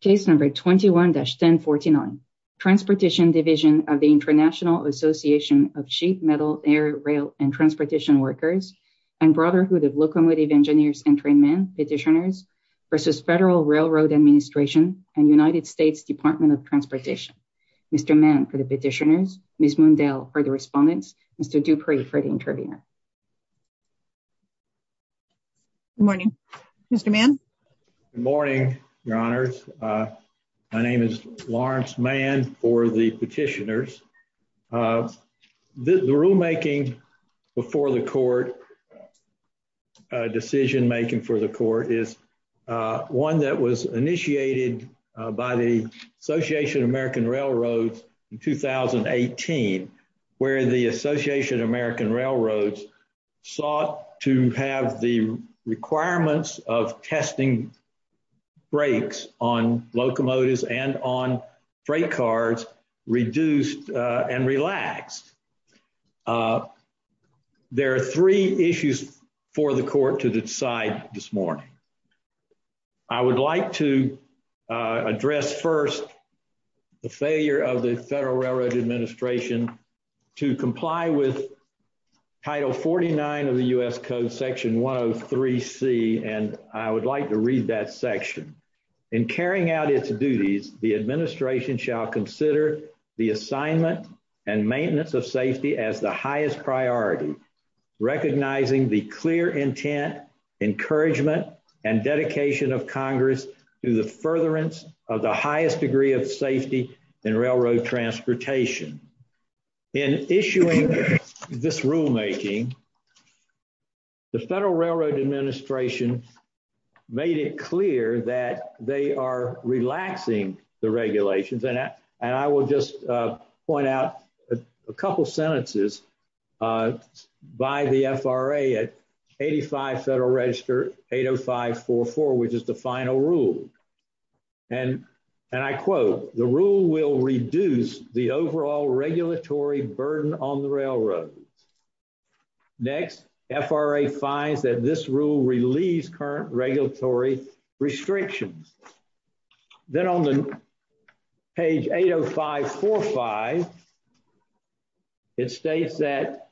Case number 21-1049. Transportation Division of the International Association of Sheep, Metal, Air, Rail and Transportation Workers and Brotherhood of Locomotive Engineers and Trainmen Petitioners versus Federal Railroad Administration and United States Department of Transportation. Mr. Mann for the petitioners, Ms. Mundell for the respondents, Mr. Dupree for the interviewer. Good morning, Mr. Mann. Good morning, Your Honors. My name is Lawrence Mann for the petitioners. The rulemaking before the court, decision making for the court is one that was initiated by the Association of American Railroads in 2018, where the Association of American Railroads sought to have the requirements of testing brakes on locomotives and on freight cars reduced and relaxed. There are three issues for the court to decide this morning. I would like to address first the failure of the Federal Railroad Administration to comply with Title 49 of the U.S. Code, Section 103C, and I would like to read that section. In carrying out its duties, the Administration shall consider the assignment and maintenance of safety as the highest priority, recognizing the clear intent, encouragement and dedication of Congress to the furtherance of the highest degree of safety in railroad transportation. In issuing this rulemaking, the Federal Railroad Administration made it clear that they are relaxing the regulations, and I will just point out a couple sentences by the FRA at 85 Federal Register 80544, which is the final rule, and I quote, the rule will reduce the overall regulatory burden on the railroad. Next, FRA finds that this rule relieves current regulatory restrictions. Then on the page 80545, it states that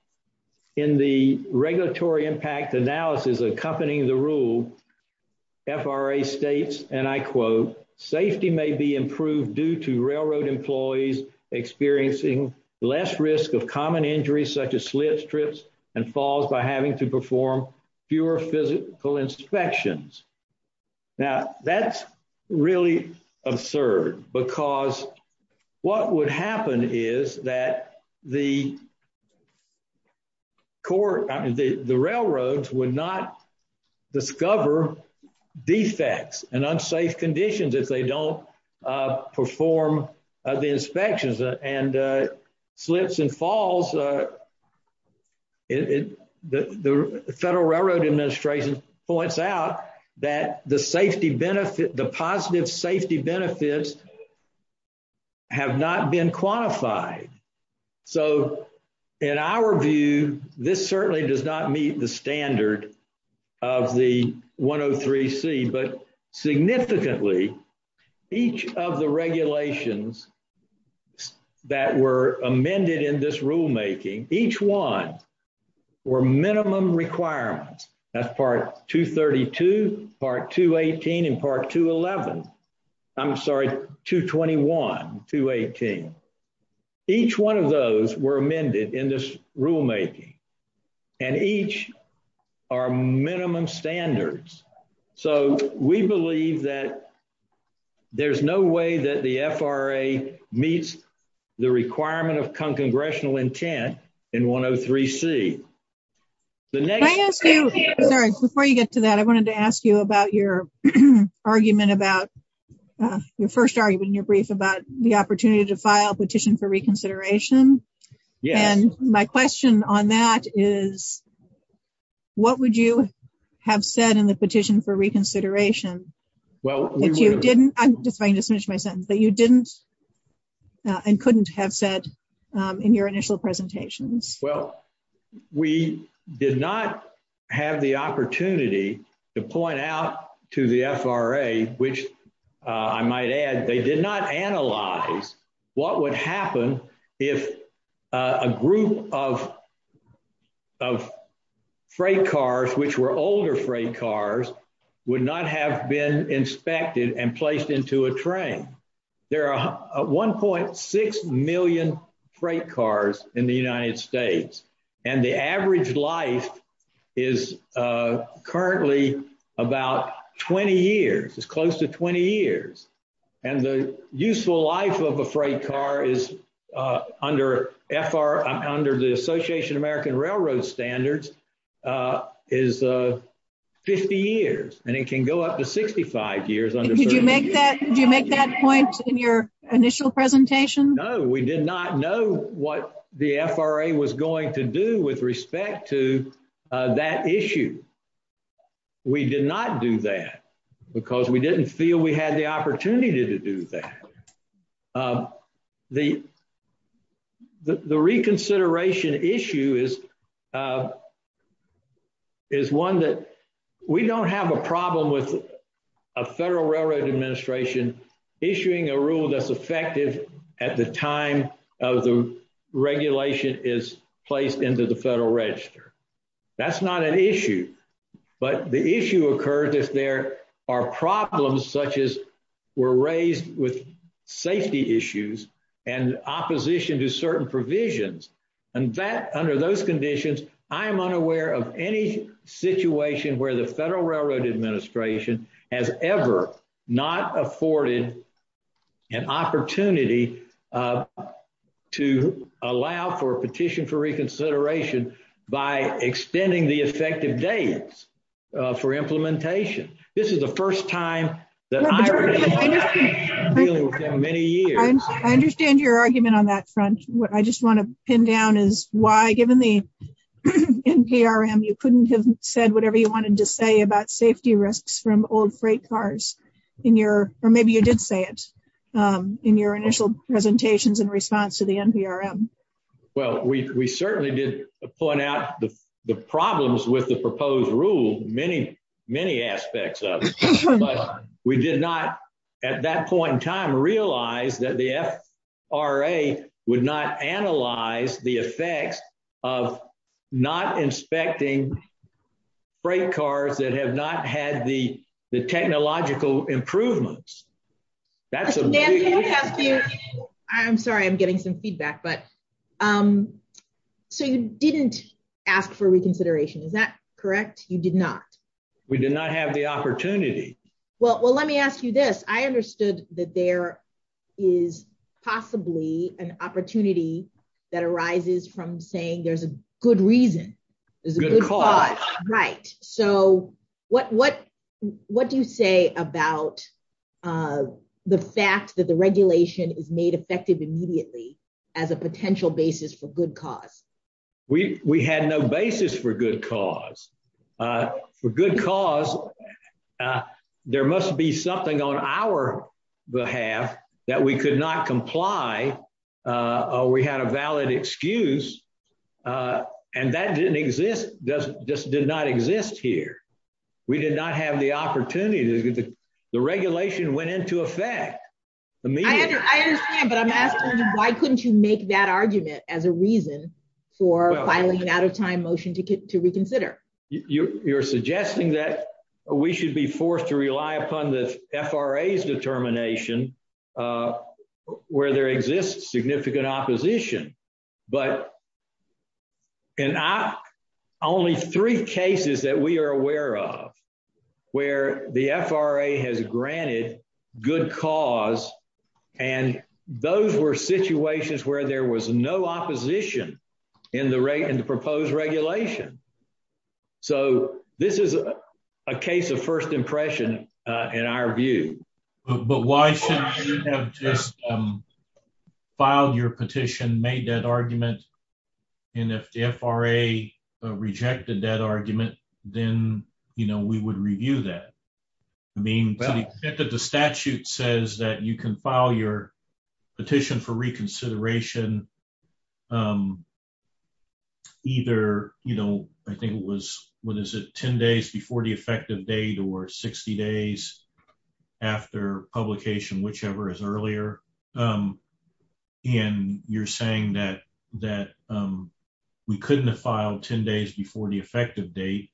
in the regulatory impact analysis accompanying the rule, FRA states, and I quote, safety may be improved due to railroad employees experiencing less risk of common injuries such as slit strips and falls by having to perform fewer physical inspections. Now, that's really absurd because what would happen is that the railroads would not discover defects and unsafe conditions if they don't perform the inspections, and slips and falls, the Federal Railroad Administration points out that the safety benefit, the positive safety benefits have not been quantified. So, in our view, this certainly does not meet the standard of the 103C, but significantly, each of the regulations that were amended in this rulemaking, each one were minimum requirements. That's part 232, part 218, and part 211. I'm sorry, 221, 218. Each one of those were amended in this rulemaking, and each are minimum standards. So, we believe that there's no way that the FRA meets the requirement of congressional intent in 103C. Can I ask you, sorry, before you get to that, I wanted to ask you about your argument about, your first argument in your brief about the opportunity to file a petition for reconsideration, and my question on that is, what would you have said in the petition for reconsideration that you didn't, if I can just finish my sentence, that you didn't and couldn't have said in your initial presentations? Well, we did not have the opportunity to point out to the FRA, which I might add, they did not analyze what would happen if a group of freight cars, which were older freight cars, would not have been inspected and placed into a train. There are 1.6 million freight cars in the United States, and the average life is currently about 20 years. It's close to 20 years, and the useful life of a freight car is, under the Association of American Railroad Standards, is 50 years, and it can go up to 65 years. Did you make that point in your initial presentation? No, we did not know what the FRA was going to do with respect to that issue. We did not do that because we didn't feel we had the opportunity to do that. The reconsideration issue is one that we don't have a problem with a Federal Railroad Administration issuing a rule that's effective at the time of the regulation is placed into the Federal Register. That's not an issue, but the issue occurs if there are problems such as were raised with safety issues and opposition to certain provisions, and under those conditions, I am unaware of any situation where the Federal Railroad Administration has ever not afforded an opportunity to allow for a petition for reconsideration by extending the effective dates for implementation. This is the first time that I've been dealing with that many years. I understand your argument on that front. What I just want to pin down is why, given the NPRM, you couldn't have said whatever you wanted to say about safety risks from old freight cars in your, or maybe you did say it in your initial presentations in response to the NPRM. Well, we certainly did point out the problems with the proposed rule, many aspects of it, but we did not at that point in time realize that the FRA would not analyze the effects of not inspecting freight cars that have not had the technological improvements. That's amazing. I'm sorry, I'm getting some feedback, but so you didn't ask for reconsideration, is that correct? You did not. We did not have the opportunity. Well, let me ask you this, I understood that there is possibly an opportunity that arises from saying there's a good reason, there's a good cause. What do you say about the fact that the regulation is made effective immediately as a potential basis for good cause? We had no basis for good cause. For good cause, there must be something on our behalf that we could not comply, or we had a valid excuse, and that didn't exist, just did not exist here. We did not have the opportunity, the regulation went into effect immediately. I understand, but I'm asking you, why couldn't you make that argument as a reason for filing an out of time motion to reconsider? You're suggesting that we should be forced to rely upon the FRA's determination where there exists significant opposition, but in only three cases that we are aware of where the FRA has granted good cause, and those were situations where there was no opposition in the proposed regulation. So, this is a case of first impression in our view. But why shouldn't you have just filed your petition, made that argument, and if the FRA rejected that argument, then we would review that. I mean, the statute says that you can file your petition for reconsideration either, you know, I think it was, what is it, 10 days before the effective date or 60 days after publication, whichever is earlier, and you're saying that we couldn't have filed 10 days before the effective date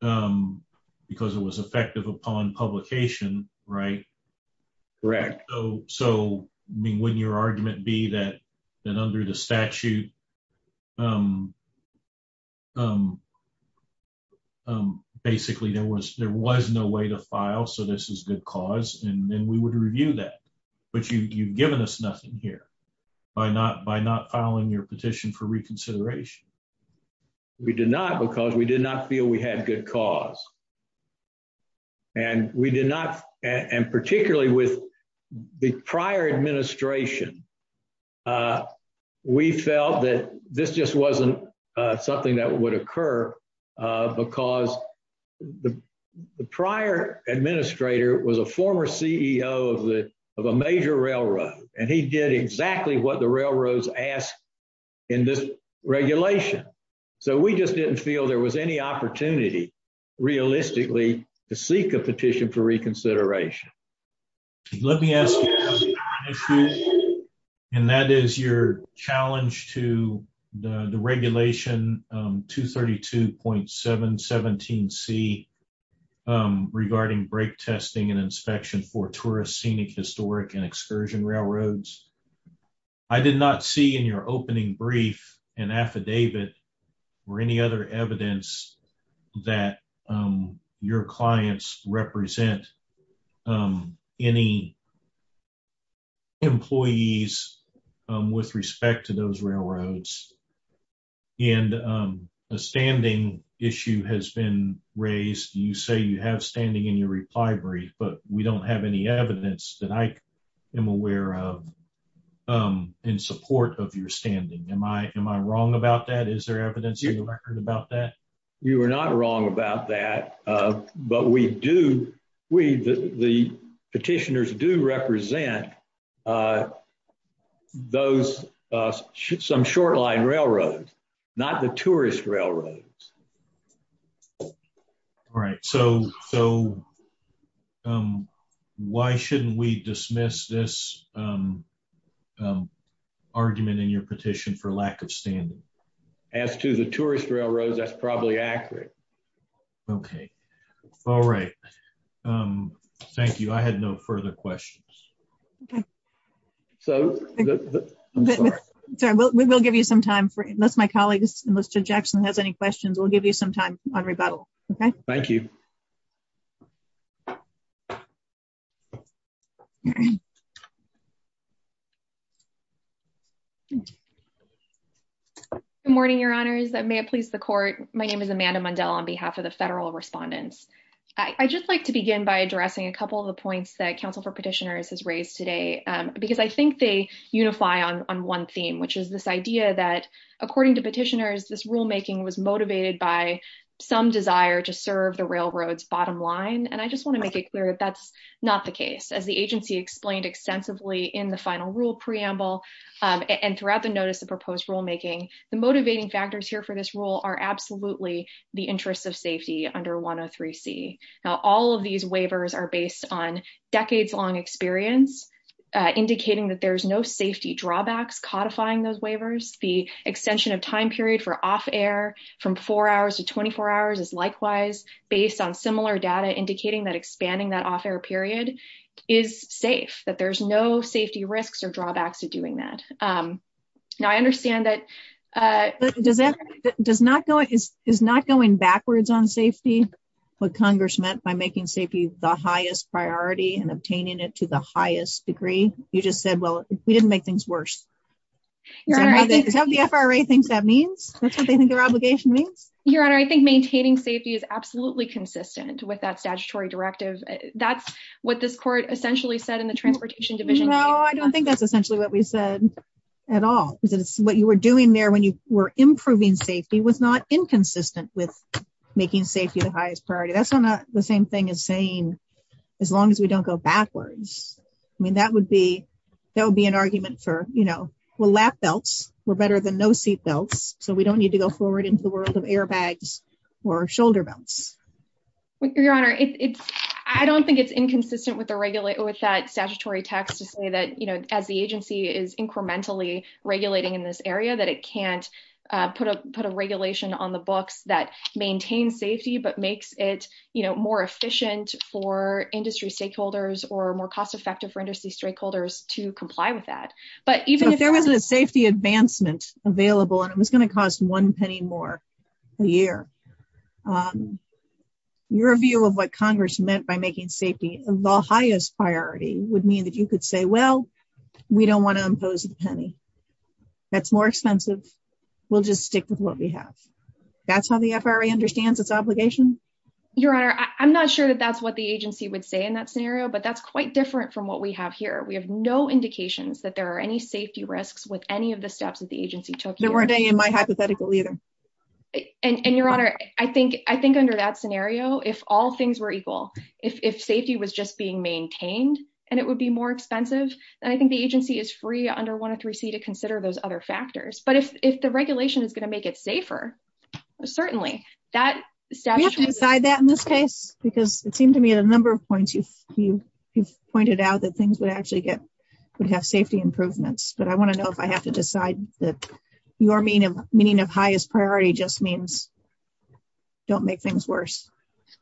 because it was effective upon publication, right? Correct. So, I mean, wouldn't your argument be that under the statute, basically, there was no way to file, so this is good cause, and then we would review that. But you've given us nothing here by not filing your petition for reconsideration. We did not because we did not feel we had good cause. And we did not, and particularly with the prior administration, we felt that this just wasn't something that would occur because the prior administrator was a former CEO of a major railroad, and he did exactly what the railroads asked in this regulation. So, we just didn't feel there was any opportunity, realistically, to seek a petition for reconsideration. Let me ask you, and that is your challenge to the regulation 232.717C regarding brake testing and inspection for tourist scenic historic and excursion railroads. I did not see in your opening brief an affidavit or any other evidence that your clients represent any employees with respect to those railroads. And a standing issue has been raised. You say you have standing in your reply brief, but we don't have any evidence that I am aware of in support of your standing. Am I wrong about that? Is there evidence in your record about that? You are not wrong about that, but the petitioners do represent some short-line railroads, not the tourist railroads. All right. So, why shouldn't we dismiss this argument in your petition for lack of standing? As to the tourist railroads, that's probably accurate. Okay. All right. Thank you. I had no further questions. Okay. So, I'm sorry. We will give you some time, unless my colleague Mr. Jackson has any questions, we'll give you some time on rebuttal. Okay. Thank you. Good morning, your honors. May it please the court. My name is Amanda Mundell on behalf of the federal respondents. I'd just like to begin by addressing a couple of the points that Council for Petitioners has raised today, because I think they unify on one theme, which is this idea that according to petitioners, this rulemaking was motivated by some desire to serve the railroad's bottom line. And I just want to make it clear that that's not the case. As the agency explained extensively in the final rule preamble and throughout the notice of proposed rulemaking, the motivating factors here for this rule are absolutely the interests of safety under 103C. Now, all of these waivers are based on decades-long experience, indicating that there's no safety drawbacks codifying those waivers. The extension of time period for off-air from four hours to 24 hours is likewise based on similar data, indicating that expanding that off-air period is safe, that there's no safety risks or drawbacks to doing that. Now, I understand that... Is not going backwards on safety what Congress meant by making safety the highest priority and obtaining it to the highest degree? You just said, well, we didn't make things worse. Is that what the FRA thinks that means? That's what they think their obligation means? Your Honor, I think maintaining safety is absolutely consistent with that statutory directive. That's what this court essentially said in the Transportation Division. No, I don't think that's essentially what we said at all. What you were doing there when you were improving safety was not inconsistent with making safety the highest priority. That's not the same thing as saying, as long as we don't go backwards. I mean, that would be an argument for, well, lap belts were better than no seat belts, so we don't need to go forward into the world of airbags or shoulder belts. Your Honor, I don't think it's inconsistent with that statutory text to say that as the agency is incrementally regulating in this put a regulation on the books that maintains safety, but makes it more efficient for industry stakeholders or more cost effective for industry stakeholders to comply with that. But even if there wasn't a safety advancement available and it was going to cost one penny more a year, your view of what Congress meant by making safety the highest priority would mean that you say, well, we don't want to impose the penny. That's more expensive. We'll just stick with what we have. That's how the FRA understands its obligation. Your Honor, I'm not sure that that's what the agency would say in that scenario, but that's quite different from what we have here. We have no indications that there are any safety risks with any of the steps that the agency took. There weren't any in my hypothetical either. And your Honor, I think under that scenario, if all things were equal, if safety was just being maintained and it would be more expensive, then I think the agency is free under 103C to consider those other factors. But if the regulation is going to make it safer, certainly. We have to decide that in this case, because it seemed to me at a number of points, you've pointed out that things would actually get, would have safety improvements. But I want to know if I have to decide that your meaning of highest priority just means don't make things worse.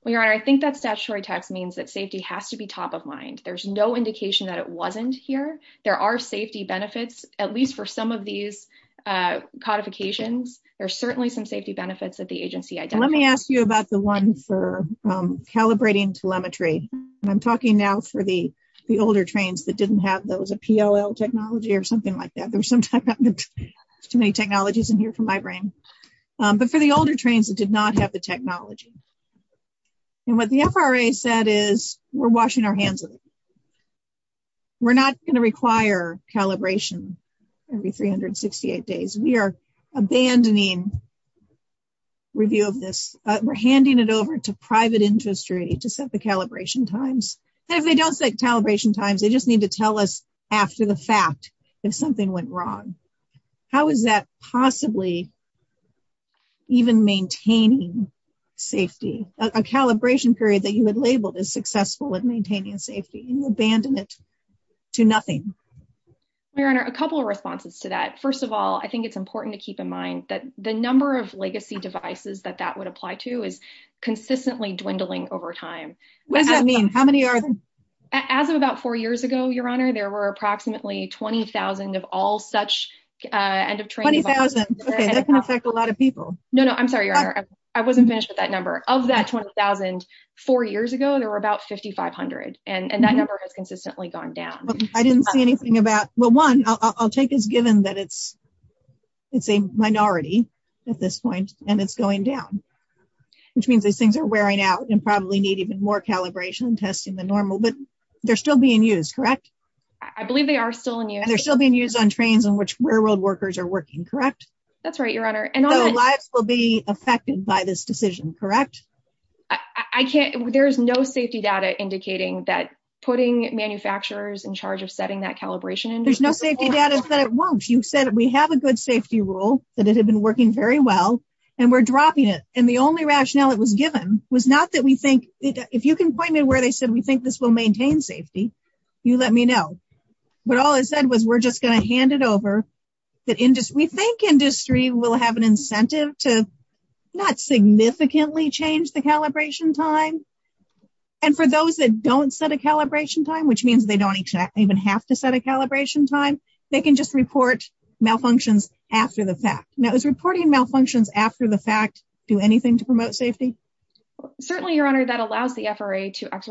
Well, your Honor, I think that statutory tax means that safety has to be top of mind. There's no indication that it wasn't here. There are safety benefits, at least for some of these codifications. There are certainly some safety benefits that the agency identified. Let me ask you about the one for calibrating telemetry. And I'm talking now for the older trains that didn't have those, a PLL technology or something like that. There's sometimes too many technologies in here for my brain. But for the older trains that did not have the technology. And what the FRA said is, we're washing our hands of it. We're not going to require calibration every 368 days. We are abandoning review of this. We're handing it over to private industry to set the calibration times. If they don't set calibration times, they just need to even maintain safety. A calibration period that you had labeled as successful at maintaining safety and you abandon it to nothing. Your Honor, a couple of responses to that. First of all, I think it's important to keep in mind that the number of legacy devices that that would apply to is consistently dwindling over time. What does that mean? How many are there? As of about four years ago, your Honor, there were approximately 20,000 of all such end of train devices. 20,000. Okay, that can affect a lot of people. No, no. I'm sorry, your Honor. I wasn't finished with that number. Of that 20,000 four years ago, there were about 5,500. And that number has consistently gone down. I didn't see anything about... Well, one, I'll take as given that it's a minority at this point and it's going down, which means these things are wearing out and probably need even more calibration testing than normal, but they're still being used, correct? I believe they are still in use. They're still being used on trains in which railroad workers are working, correct? That's right, your Honor. So lives will be affected by this decision, correct? There's no safety data indicating that putting manufacturers in charge of setting that calibration... There's no safety data that it won't. You said we have a good safety rule, that it had been working very well, and we're dropping it. And the only rationale it was given was not that we think... If you can point me to where they said we think this will maintain safety, you let me know. But all I said was, we're just going to hand it over. We think industry will have an incentive to not significantly change the calibration time. And for those that don't set a calibration time, which means they don't even have to set a calibration time, they can just report malfunctions after the fact. Now, is reporting malfunctions after the fact do anything to promote safety? Certainly, your Honor, that allows the FRA to that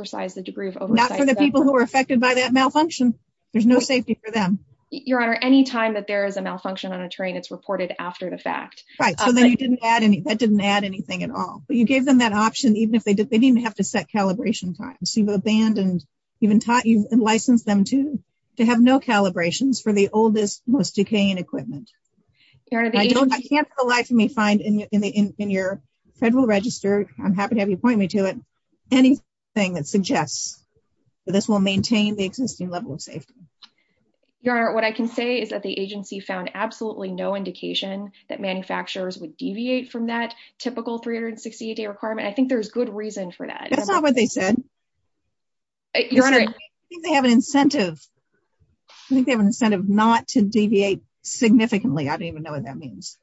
malfunction. There's no safety for them. Your Honor, any time that there is a malfunction on a train, it's reported after the fact. Right, so that didn't add anything at all. But you gave them that option, even if they didn't even have to set calibration times. You've abandoned, even licensed them to have no calibrations for the oldest, most decaying equipment. I can't for the life of me find in your federal register, I'm happy to have you point me to it, anything that suggests that this will maintain the existing level of safety. Your Honor, what I can say is that the agency found absolutely no indication that manufacturers would deviate from that typical 368-day requirement. I think there's good reason for that. That's not what they said. Your Honor, I think they have an incentive. I think they have an incentive not to deviate significantly. I don't even know what that means.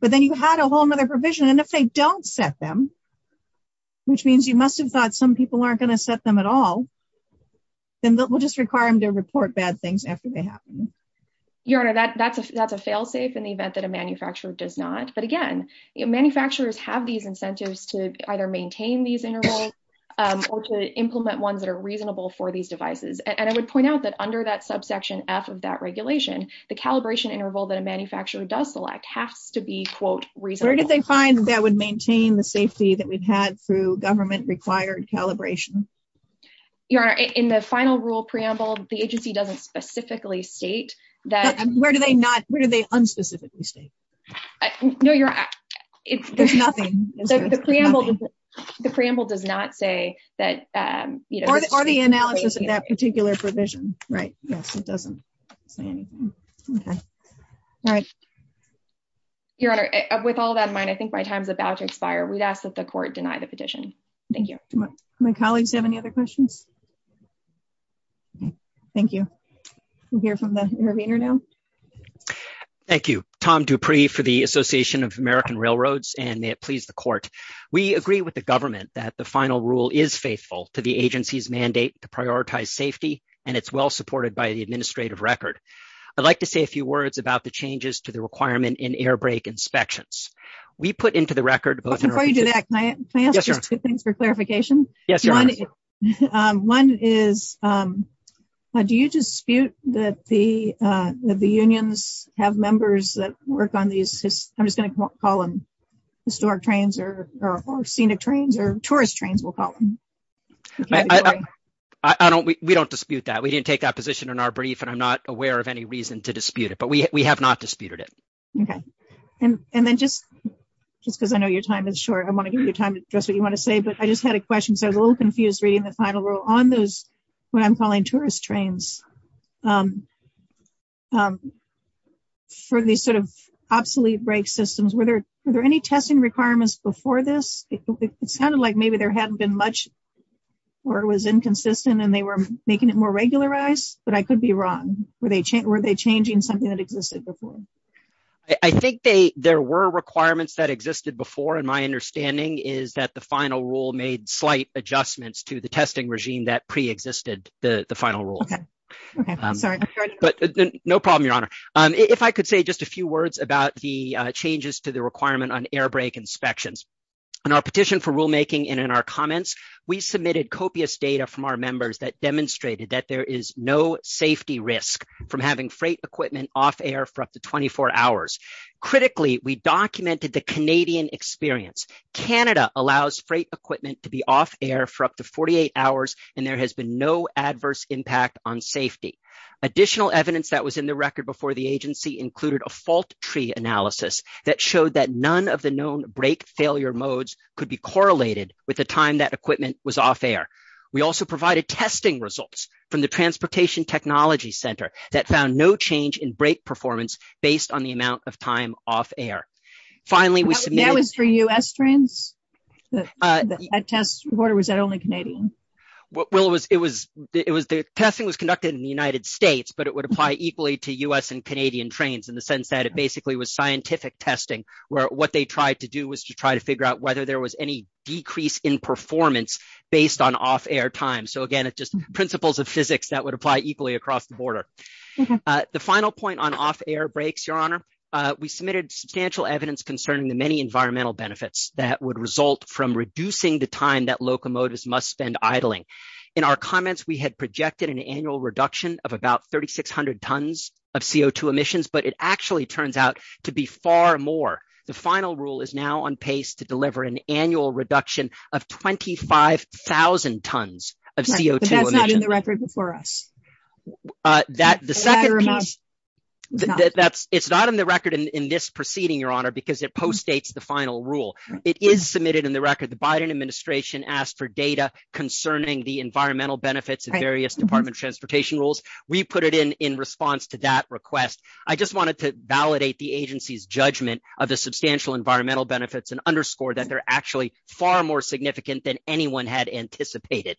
But then you had a whole other provision, and if they don't set them, which means you must have thought some people aren't going to set them at all, then we'll just require them to report bad things after they happen. Your Honor, that's a fail-safe in the event that a manufacturer does not. But again, manufacturers have these incentives to either maintain these intervals or to implement ones that are reasonable for these devices. And I would point out that under that subsection F of that regulation, the calibration interval that a manufacturer does select has to be reasonable. Where did they find that would maintain the safety that we've had through government-required calibration? Your Honor, in the final rule preamble, the agency doesn't specifically state that... Where do they unspecifically state? There's nothing. The preamble does not say that... Or the analysis of that particular provision, right? Yes, it doesn't say anything. Okay. All right. Your Honor, with all that in mind, I think my time's about to expire. We'd ask that the court deny the petition. Thank you. Do my colleagues have any other questions? Okay. Thank you. We'll hear from the intervener now. Thank you. Tom Dupree for the Association of American Railroads, and may it please the court. We agree with the government that the final rule is faithful to the agency's mandate to record. I'd like to say a few words about the changes to the requirement in air brake inspections. We put into the record both... Before you do that, can I ask just two things for clarification? Yes, Your Honor. One is, do you dispute that the unions have members that work on these... I'm just going to call them historic trains or scenic trains or tourist trains, we'll call them. Okay. I don't... We don't dispute that. We didn't take that position in our brief, and I'm not aware of any reason to dispute it, but we have not disputed it. Okay. And then just because I know your time is short, I want to give you time to address what you want to say, but I just had a question. So I was a little confused reading the final rule on those, what I'm calling tourist trains for these sort of obsolete brake systems. Were there any testing requirements before this? It sounded like maybe there hadn't been much or it was inconsistent and they were making it more regularized, but I could be wrong. Were they changing something that existed before? I think there were requirements that existed before, and my understanding is that the final rule made slight adjustments to the testing regime that pre-existed the final rule. Okay. Okay. Sorry. But no problem, Your Honor. If I could say just a few words about the changes to the requirement on airbrake inspections. In our petition for rulemaking and in our comments, we submitted copious data from our members that demonstrated that there is no safety risk from having freight equipment off air for up to 24 hours. Critically, we documented the Canadian experience. Canada allows freight equipment to be off air for up to 48 hours, and there has been no adverse impact on safety. Additional evidence that was in the record before the agency included a tree analysis that showed that none of the known brake failure modes could be correlated with the time that equipment was off air. We also provided testing results from the Transportation Technology Center that found no change in brake performance based on the amount of time off air. Finally, we submitted- That was for U.S. trains? That test was only Canadian? Well, the testing was conducted in the United States. In the sense that it basically was scientific testing, where what they tried to do was to try to figure out whether there was any decrease in performance based on off air time. So again, it's just principles of physics that would apply equally across the border. The final point on off air brakes, Your Honor, we submitted substantial evidence concerning the many environmental benefits that would result from reducing the time that locomotives must spend idling. In our comments, we had projected an annual reduction of about 3,600 tons of CO2 emissions, but it actually turns out to be far more. The final rule is now on pace to deliver an annual reduction of 25,000 tons of CO2 emissions. But that's not in the record before us? It's not in the record in this proceeding, Your Honor, because it postdates the final rule. It is submitted in the record. The Biden administration asked for data concerning the environmental benefits of various department transportation rules. We put it in response to that request. I just wanted to validate the agency's judgment of the substantial environmental benefits and underscore that they're actually far more significant than anyone had anticipated.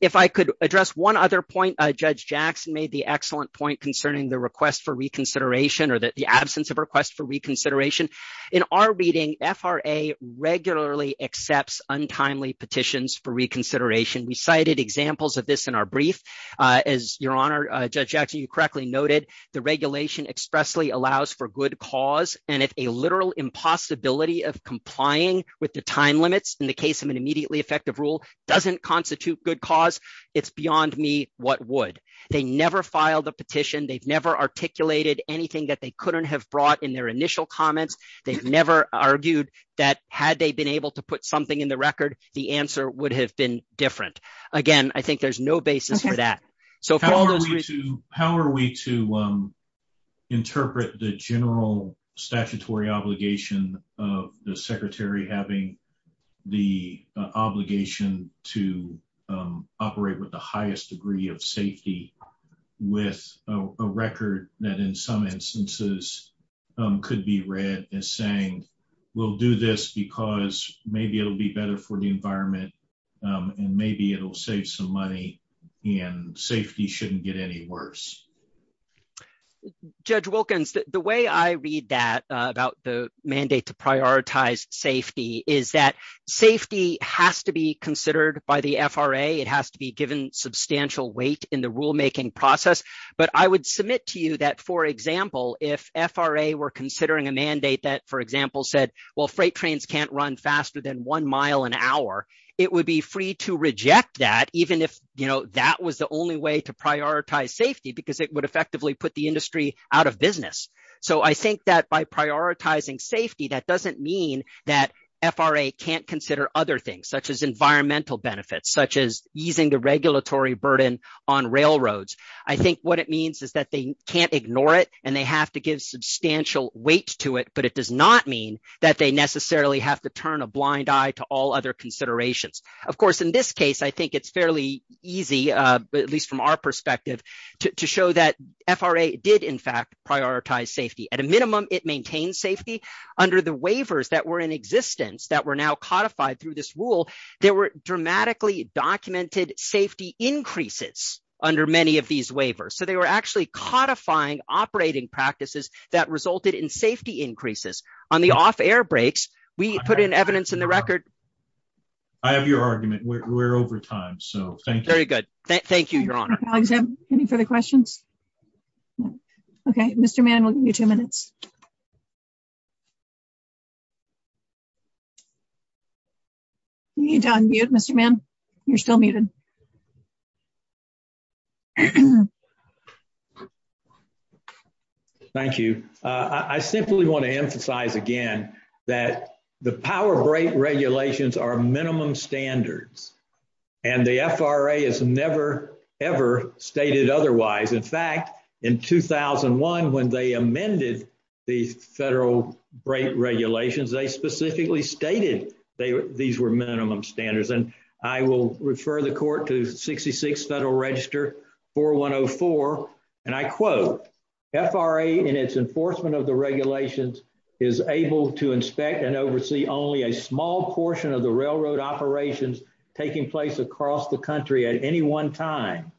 If I could address one other point, Judge Jackson made the excellent point concerning the request for reconsideration or the absence of request for reconsideration. In our reading, FRA regularly accepts untimely petitions for reconsideration. We cited examples of this in our brief. As Your Honor, Judge Jackson, you correctly noted, the regulation expressly allows for good cause, and if a literal impossibility of complying with the time limits in the case of an immediately effective rule doesn't constitute good cause, it's beyond me what would. They never filed a petition. They've never articulated anything that they couldn't have brought in their initial comments. They've never argued that had they been able to put something in the record, the answer would have been different. Again, I think there's no basis for that. How are we to interpret the general statutory obligation of the secretary having the obligation to operate with the highest degree of safety with a record that in some instances could be read as saying we'll do this because maybe it'll be better for the environment and maybe it'll save some money and safety shouldn't get any worse? Judge Wilkins, the way I read that about the mandate to prioritize safety is that safety has to be considered by the FRA. It has to be given substantial weight in the rulemaking process, but I would submit to you that, for example, if FRA were considering a mandate that, for example, said freight trains can't run faster than one mile an hour, it would be free to reject that even if that was the only way to prioritize safety because it would effectively put the industry out of business. I think that by prioritizing safety, that doesn't mean that FRA can't consider other things such as environmental benefits, such as easing the regulatory burden on railroads. I think what it means is that they can't ignore it and they have to give substantial weight to it, but it does not mean that they necessarily have to turn a blind eye to all other considerations. Of course, in this case, I think it's fairly easy, at least from our perspective, to show that FRA did, in fact, prioritize safety. At a minimum, it maintained safety. Under the waivers that were in existence that were now codified through this rule, there were dramatically documented safety increases under many of these waivers. So, they were actually codifying operating practices that resulted in safety increases. On the off-air brakes, we put in evidence in the record. I have your argument. We're over time, so thank you. Very good. Thank you, Your Honor. Any further questions? Okay. Mr. Mann, we'll give you two minutes. Mr. Mann, you're still muted. Thank you. I simply want to emphasize again that the power brake regulations are minimum standards and the FRA has never, ever stated otherwise. In fact, in 2001, when they amended the federal brake regulations, they specifically stated these were minimum standards. And I will refer the Court to 66 Federal Register 4104, and I quote, FRA, in its enforcement of the regulations, is able to inspect and oversee only a small portion of the railroad operations taking place across the country at any one time.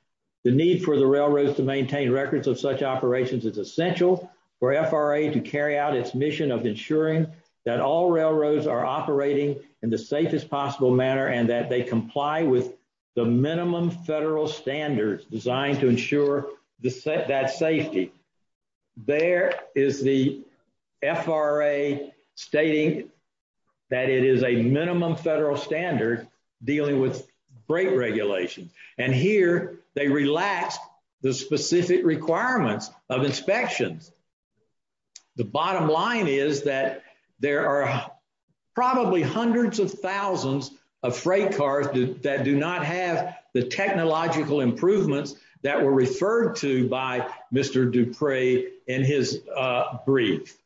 The need for the railroads to maintain records of such operations is essential for FRA to carry out its mission of ensuring that all railroads are operating in the safest possible manner and that they comply with the minimum federal standards designed to ensure that safety. There is the FRA stating that it is a minimum federal standard dealing with brake regulations. And here they relaxed the specific requirements of inspections. The bottom line is that there are probably hundreds of thousands of freight cars that do not have the technological improvements that were referred to by Mr. Dupre in his brief.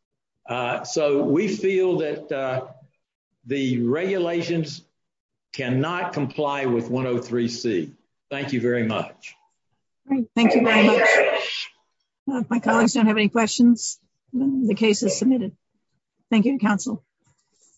So we feel that the regulations cannot comply with 103C. Thank you very much. Thank you very much. If my colleagues don't have any questions, the case is submitted. Thank you, Counsel.